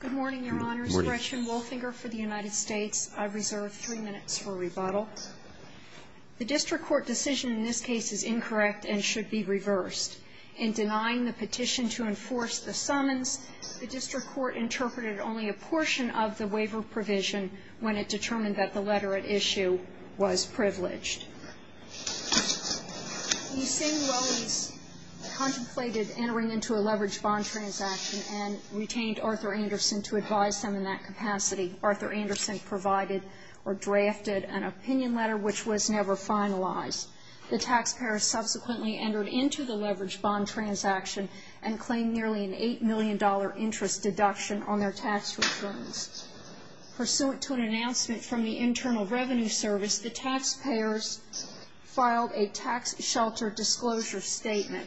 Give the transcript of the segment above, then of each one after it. Good morning, Your Honors. Gretchen Wolfinger for the United States. I reserve three minutes for rebuttal. The District Court decision in this case is incorrect and should be reversed. In denying the petition to enforce the summons, the District Court interpreted only a portion of the waiver provision when it determined that the letter at issue was privileged. Lucinda Rowley contemplated entering into a leveraged bond transaction and retained Arthur Anderson to advise them in that capacity. Arthur Anderson provided or drafted an opinion letter which was never finalized. The taxpayers subsequently entered into the leveraged bond transaction and claimed nearly an $8 million interest deduction on their tax returns. Pursuant to an announcement from the Internal Revenue Service, the taxpayers filed a tax shelter disclosure statement.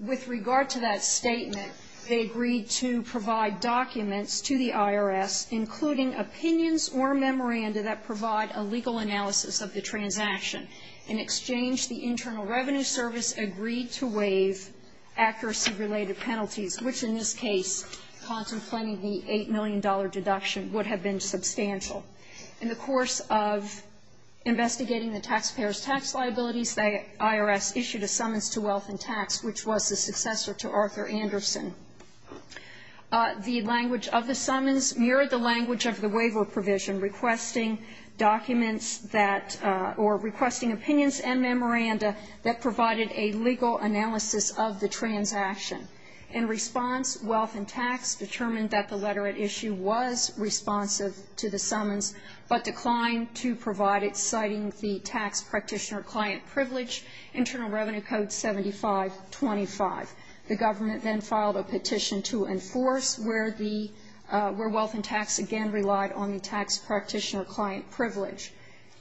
With regard to that statement, they agreed to provide documents to the IRS including opinions or memoranda that provide a legal analysis of the transaction. In exchange, the Internal Revenue Service agreed to waive accuracy-related penalties, which in this case, contemplating the $8 million deduction, would have been substantial. In the course of investigating the taxpayers' tax liabilities, the IRS issued a summons to Wealth and Tax, which was the successor to Arthur Anderson. The language of the summons mirrored the language of the waiver provision, requesting documents that, or requesting opinions and memoranda that provided a legal analysis of the transaction. In response, Wealth and Tax determined that the letter at issue was responsive to the summons, but declined to provide it, citing the tax practitioner client privilege, Internal Revenue Code 7525. The government then filed a petition to enforce, where the – where Wealth and Tax again relied on the tax practitioner client privilege.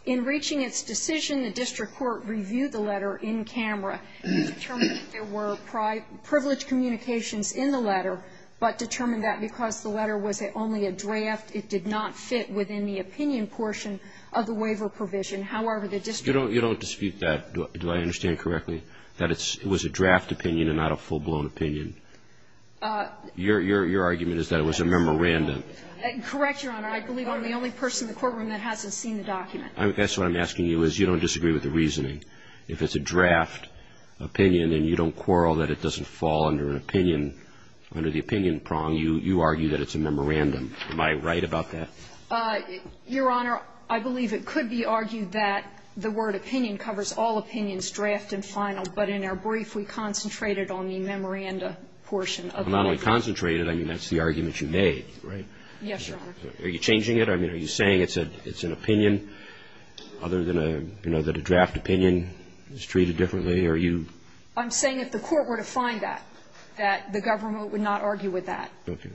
In reaching its decision, the district court reviewed the letter in camera and determined that there were privilege communications in the letter, but determined that because the letter was only a draft, it did not fit within the opinion portion of the waiver provision. However, the district court said that it was a draft opinion. It was a draft opinion and not a full-blown opinion. Your argument is that it was a memorandum. Correct, Your Honor. I believe I'm the only person in the courtroom that hasn't seen the document. That's what I'm asking you, is you don't disagree with the reasoning. If it's a draft opinion and you don't quarrel that it doesn't fall under an opinion, under the opinion prong, you argue that it's a memorandum. Am I right about that? Your Honor, I believe it could be argued that the word opinion covers all opinions, draft and final. But in our brief, we concentrated on the memoranda portion of it. Not only concentrated, I mean, that's the argument you made, right? Yes, Your Honor. Are you changing it? I mean, are you saying it's an opinion other than a, you know, that a draft opinion is treated differently? Are you? I'm saying if the court were to find that, that the government would not argue with that. Okay.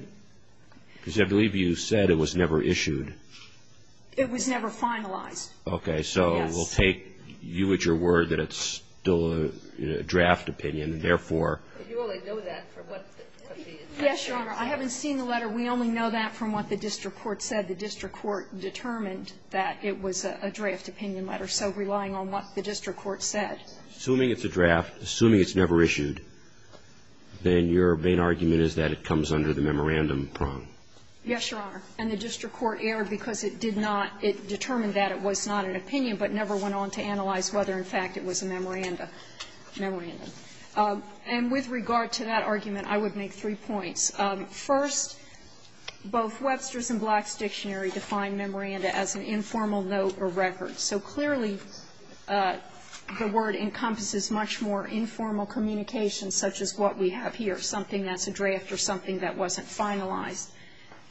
Because I believe you said it was never issued. It was never finalized. Okay. So you're saying that the court will take you at your word that it's still a draft opinion and therefore you only know that from what the district court said. Yes, Your Honor. I haven't seen the letter. We only know that from what the district court said. The district court determined that it was a draft opinion letter, so relying on what the district court said. Assuming it's a draft, assuming it's never issued, then your main argument is that it comes under the memorandum prong. Yes, Your Honor. And the district court erred because it did not, it determined that it was not an opinion but never went on to analyze whether, in fact, it was a memorandum. And with regard to that argument, I would make three points. First, both Webster's and Black's dictionary define memorandum as an informal note or record. So clearly, the word encompasses much more informal communication such as what we have here, something that's a draft or something that wasn't finalized.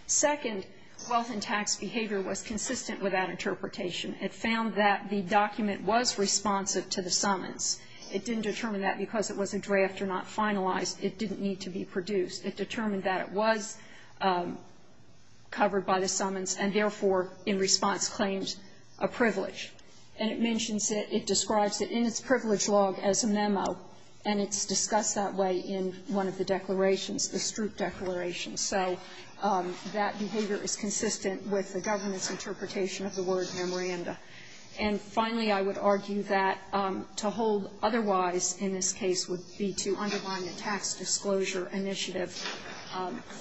Second, wealth and tax behavior was consistent with that interpretation. It found that the document was responsive to the summons. It didn't determine that because it was a draft or not finalized. It didn't need to be produced. It determined that it was covered by the summons and, therefore, in response, claimed a privilege. And it mentions it, it describes it in its privilege log as a memo, and it's discussed that way in one of the declarations, the Stroop Declaration. So that behavior is consistent with the government's interpretation of the word memorandum. And, finally, I would argue that to hold otherwise in this case would be to underline the tax disclosure initiative.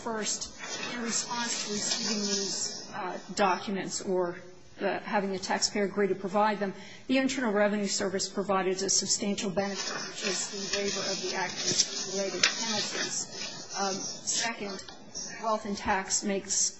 First, in response to receiving these documents or having the taxpayer agree to provide them, the Internal Revenue Service provided a substantial benefit, which is the waiver of the active related penalties. Second, wealth and tax makes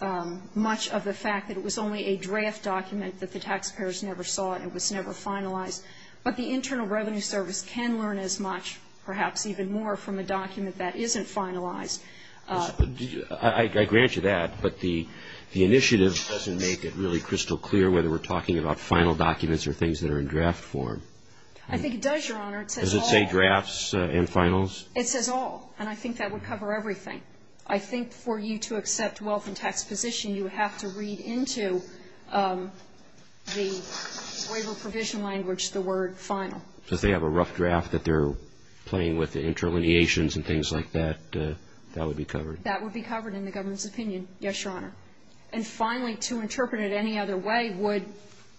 much of the fact that it was only a draft document that the taxpayers never saw, and it was never finalized. But the Internal Revenue Service can learn as much, perhaps even more, from a document that isn't finalized. I grant you that, but the initiative doesn't make it really crystal clear whether we're talking about final documents or things that are in draft form. I think it does, Your Honor. Does it say drafts and finals? It says all. And I think that would cover everything. I think for you to accept wealth and tax position, you have to read into the waiver provision language the word final. Does they have a rough draft that they're playing with the interlineations and things like that? That would be covered. That would be covered in the government's opinion, yes, Your Honor. And, finally, to interpret it any other way would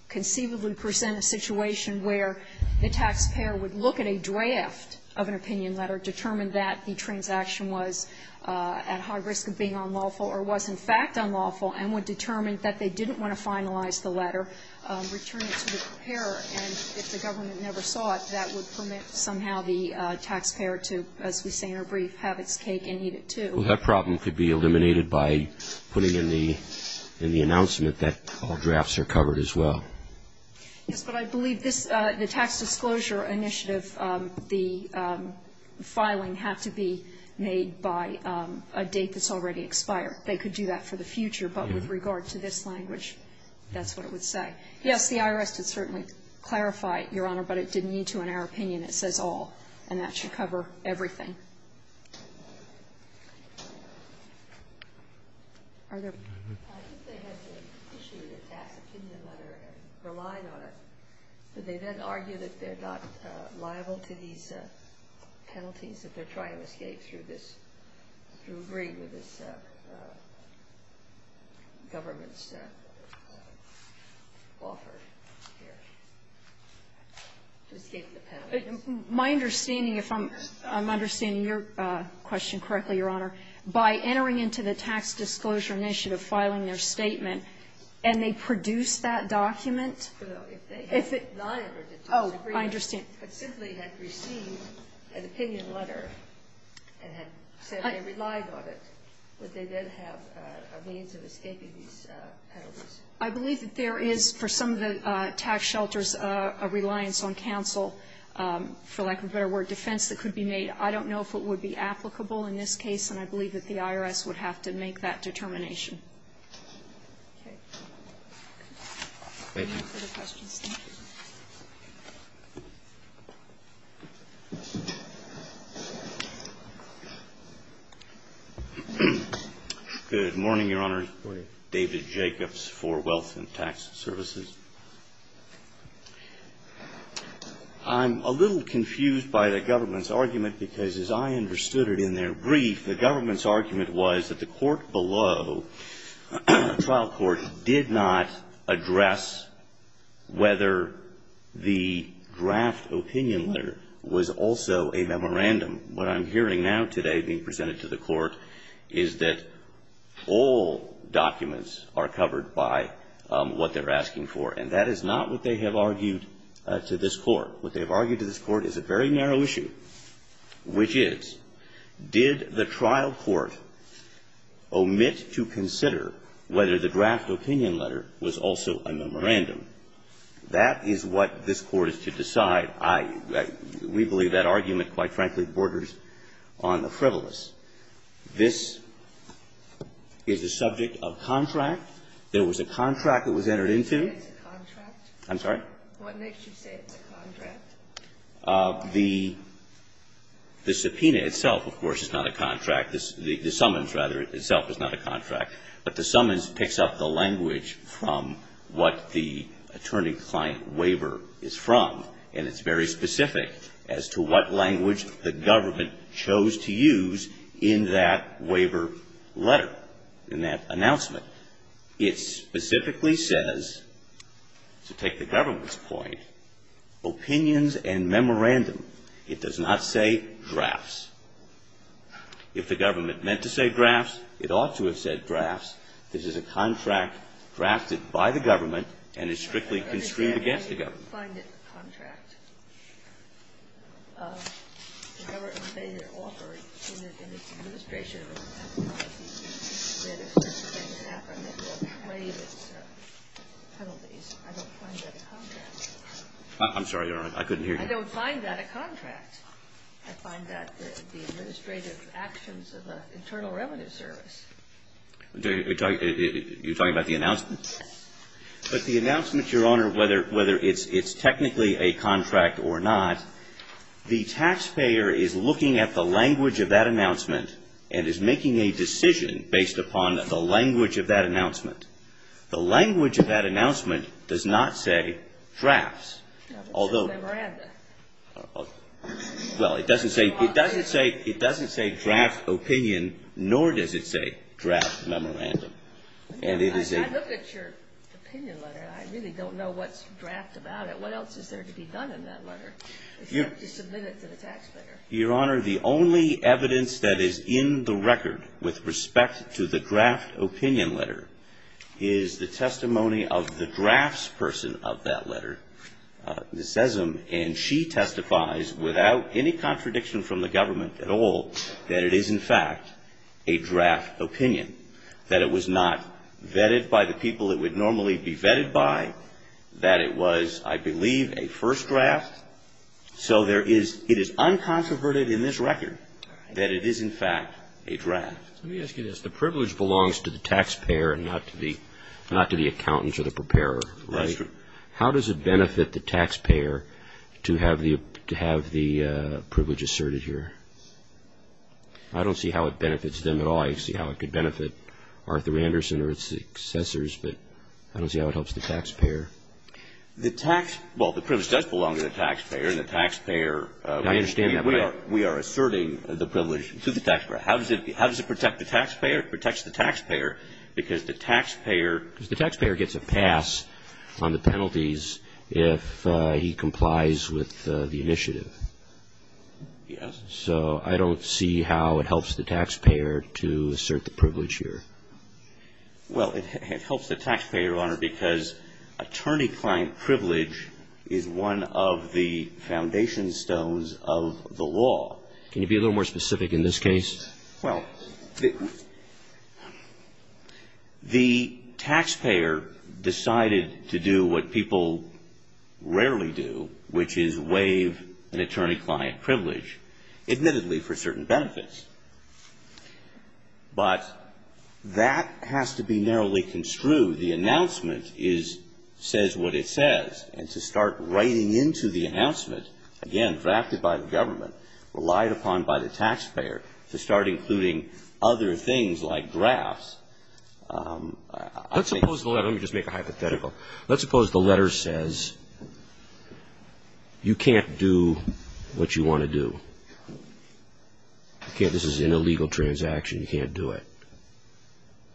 conceivably present a situation where the taxpayer would look at a draft of an opinion letter, determine that the transaction was at high risk of being unlawful or was, in fact, unlawful, and would determine that they didn't want to finalize the letter, return it to the preparer, and if the government never saw it, that would permit somehow the taxpayer to, as we say in our brief, have its cake and eat it, too. Well, that problem could be eliminated by putting in the announcement that all drafts are covered as well. Yes, but I believe this, the tax disclosure initiative, the filing had to be made by a date that's already expired. They could do that for the future. But with regard to this language, that's what it would say. Yes, the IRS did certainly clarify it, Your Honor, but it didn't need to in our opinion. It says all, and that should cover everything. I think they had to issue the tax opinion letter and relied on it. Did they then argue that they're not liable to these penalties, that they're trying to escape through this, through agreeing with this government's offer here, to escape the penalties? My understanding, if I'm understanding your question correctly, Your Honor, by entering into the tax disclosure initiative, filing their statement, and they produced that document. Well, if they had lied or disagreed, but simply had received an opinion letter and had said they relied on it, would they then have a means of escaping these penalties? I believe that there is, for some of the tax shelters, a reliance on counsel, for lack of a better word, defense that could be made. I don't know if it would be applicable in this case, and I believe that the IRS would have to make that determination. Okay. Thank you. Any further questions? Thank you. Good morning, Your Honor. Good morning. David Jacobs for Wealth and Tax Services. I'm a little confused by the government's argument, because as I understood it in their brief, the government's argument was that the court below, the trial court, did not address whether the draft opinion letter was also a memorandum. What I'm hearing now today being presented to the court is that all documents are covered by what they're asking for, and that is not what they have argued to this court. What they have argued to this court is a very narrow issue, which is, did the trial court omit to consider whether the draft opinion letter was also a memorandum? That is what this court is to decide. We believe that argument, quite frankly, borders on the frivolous. This is the subject of contract. There was a contract that was entered into. It's a contract? I'm sorry? What makes you say it's a contract? The subpoena itself, of course, is not a contract. The summons, rather, itself is not a contract. But the summons picks up the language from what the attorney-client waiver is from, and it's very specific as to what language the government chose to use in that waiver letter, in that announcement. It specifically says, to take the government's point, opinions and memorandum. It does not say drafts. If the government meant to say drafts, it ought to have said drafts. This is a contract drafted by the government and is strictly constrained against the government. I don't find it a contract. The government made an offer in its administration of a contract that if certain things happen, it will trade its penalties. I don't find that a contract. I'm sorry, Your Honor. I couldn't hear you. I don't find that a contract. I find that the administrative actions of an internal revenue service. You're talking about the announcement? Yes. But the announcement, Your Honor, whether it's technically a contract or not, the taxpayer is looking at the language of that announcement and is making a decision based upon the language of that announcement. The language of that announcement does not say drafts. Although the memorandum. Well, it doesn't say draft opinion, nor does it say draft memorandum. I look at your opinion letter and I really don't know what's draft about it. What else is there to be done in that letter? You have to submit it to the taxpayer. Your Honor, the only evidence that is in the record with respect to the draft opinion letter is the testimony of the drafts person of that letter. It says, and she testifies without any contradiction from the government at all, that it is, in fact, a draft opinion, that it was not vetted by the people it would normally be vetted by, that it was, I believe, a first draft. So it is uncontroverted in this record that it is, in fact, a draft. Let me ask you this. The privilege belongs to the taxpayer and not to the accountant or the preparer, right? That's true. How does it benefit the taxpayer to have the privilege asserted here? I don't see how it benefits them at all. I see how it could benefit Arthur Anderson or his successors, but I don't see how it helps the taxpayer. The tax, well, the privilege does belong to the taxpayer and the taxpayer I understand that. We are asserting the privilege to the taxpayer. How does it protect the taxpayer? It protects the taxpayer because the taxpayer gets a pass on the penalties if he complies with the initiative. Yes. So I don't see how it helps the taxpayer to assert the privilege here. Well, it helps the taxpayer, Your Honor, because attorney-client privilege is one of the foundation stones of the law. Can you be a little more specific in this case? Well, the taxpayer decided to do what people rarely do, which is waive an attorney-client privilege, admittedly for certain benefits. But that has to be narrowly construed. The announcement is, says what it says, and to start writing into the announcement, again, drafted by the government, but relied upon by the taxpayer to start including other things like drafts. Let's suppose the letter, let me just make a hypothetical. Let's suppose the letter says you can't do what you want to do. Okay, this is an illegal transaction. You can't do it.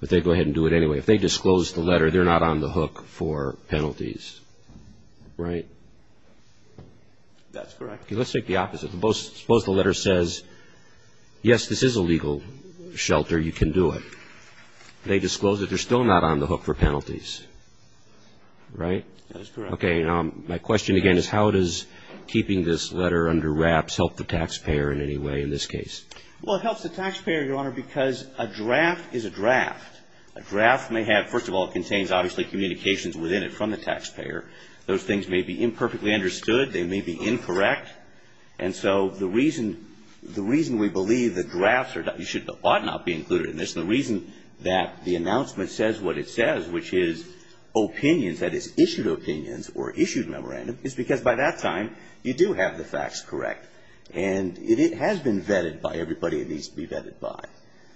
But they go ahead and do it anyway. If they disclose the letter, they're not on the hook for penalties, right? That's correct. Okay, let's take the opposite. Suppose the letter says, yes, this is a legal shelter. You can do it. They disclose it. They're still not on the hook for penalties, right? That is correct. Okay. Now, my question again is how does keeping this letter under wraps help the taxpayer in any way in this case? Well, it helps the taxpayer, Your Honor, because a draft is a draft. A draft may have, first of all, it contains obviously communications within it from the taxpayer. Those things may be imperfectly understood. They may be incorrect. And so the reason we believe that drafts ought not be included in this, and the reason that the announcement says what it says, which is opinions, that is, issued opinions or issued memorandum, is because by that time you do have the facts correct. And it has been vetted by everybody it needs to be vetted by.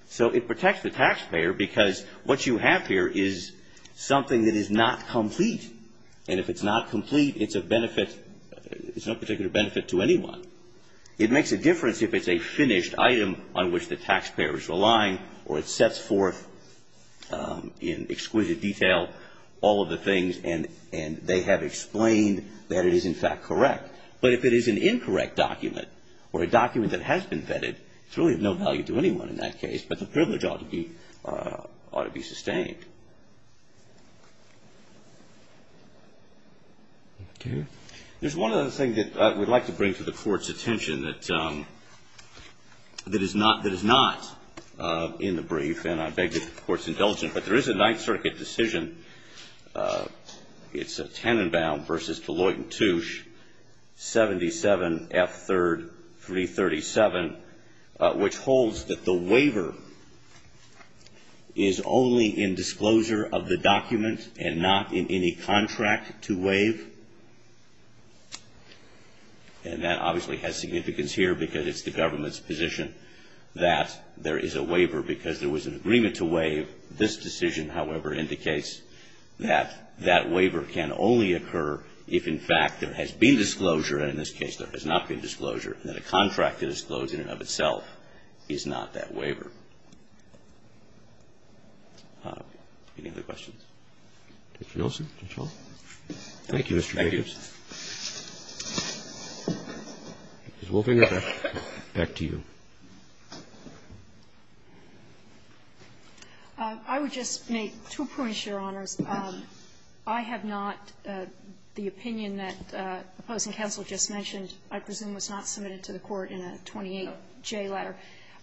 So it protects the taxpayer because what you have here is something that is not complete. And if it's not complete, it's of benefit, it's of no particular benefit to anyone. It makes a difference if it's a finished item on which the taxpayer is relying or it sets forth in exquisite detail all of the things and they have explained that it is in fact correct. But if it is an incorrect document or a document that has been vetted, it's really of no value to anyone in that case, but the privilege ought to be sustained. Thank you. There's one other thing that I would like to bring to the Court's attention that is not in the brief, and I beg the Court's indulgence, but there is a Ninth Circuit decision. It's Tannenbaum v. Deloitte & Touche, 77F3337, which holds that the waiver is only in discussion if there has been disclosure of the document and not in any contract to waive. And that obviously has significance here because it's the government's position that there is a waiver because there was an agreement to waive. This decision, however, indicates that that waiver can only occur if in fact there has been disclosure, and in this case there has not been disclosure, and that a contract to disclosure in and of itself is not that waiver. Any other questions? Mr. Nelson, Judge Hall? Thank you, Mr. Jacobs. Thank you. Ms. Wolfinger, back to you. I would just make two points, Your Honors. I have not the opinion that the opposing counsel just mentioned I presume was not submitted to the Court in a 28J letter.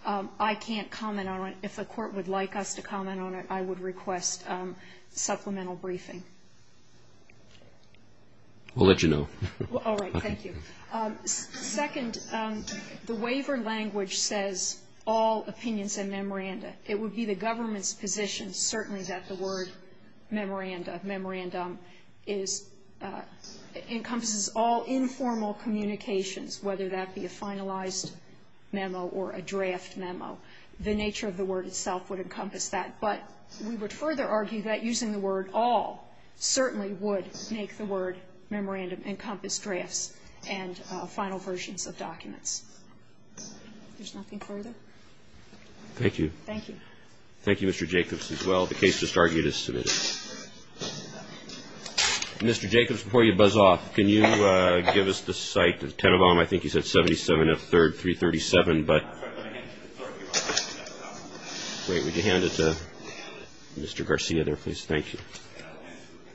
I can't comment on it. If the Court would like us to comment on it, I would request supplemental briefing. We'll let you know. All right. Thank you. Second, the waiver language says all opinions and memoranda. It would be the government's position certainly that the word memoranda, memorandum, encompasses all informal communications, whether that be a finalized memo or a draft memo. The nature of the word itself would encompass that. But we would further argue that using the word all certainly would make the word memorandum encompass drafts and final versions of documents. If there's nothing further. Thank you. Thank you. Thank you, Mr. Jacobs, as well. The case just argued is submitted. Mr. Jacobs, before you buzz off, can you give us the site of Tenenbaum? I think you said 77 and 3rd, 337. But wait, would you hand it to Mr. Garcia there, please? Thank you.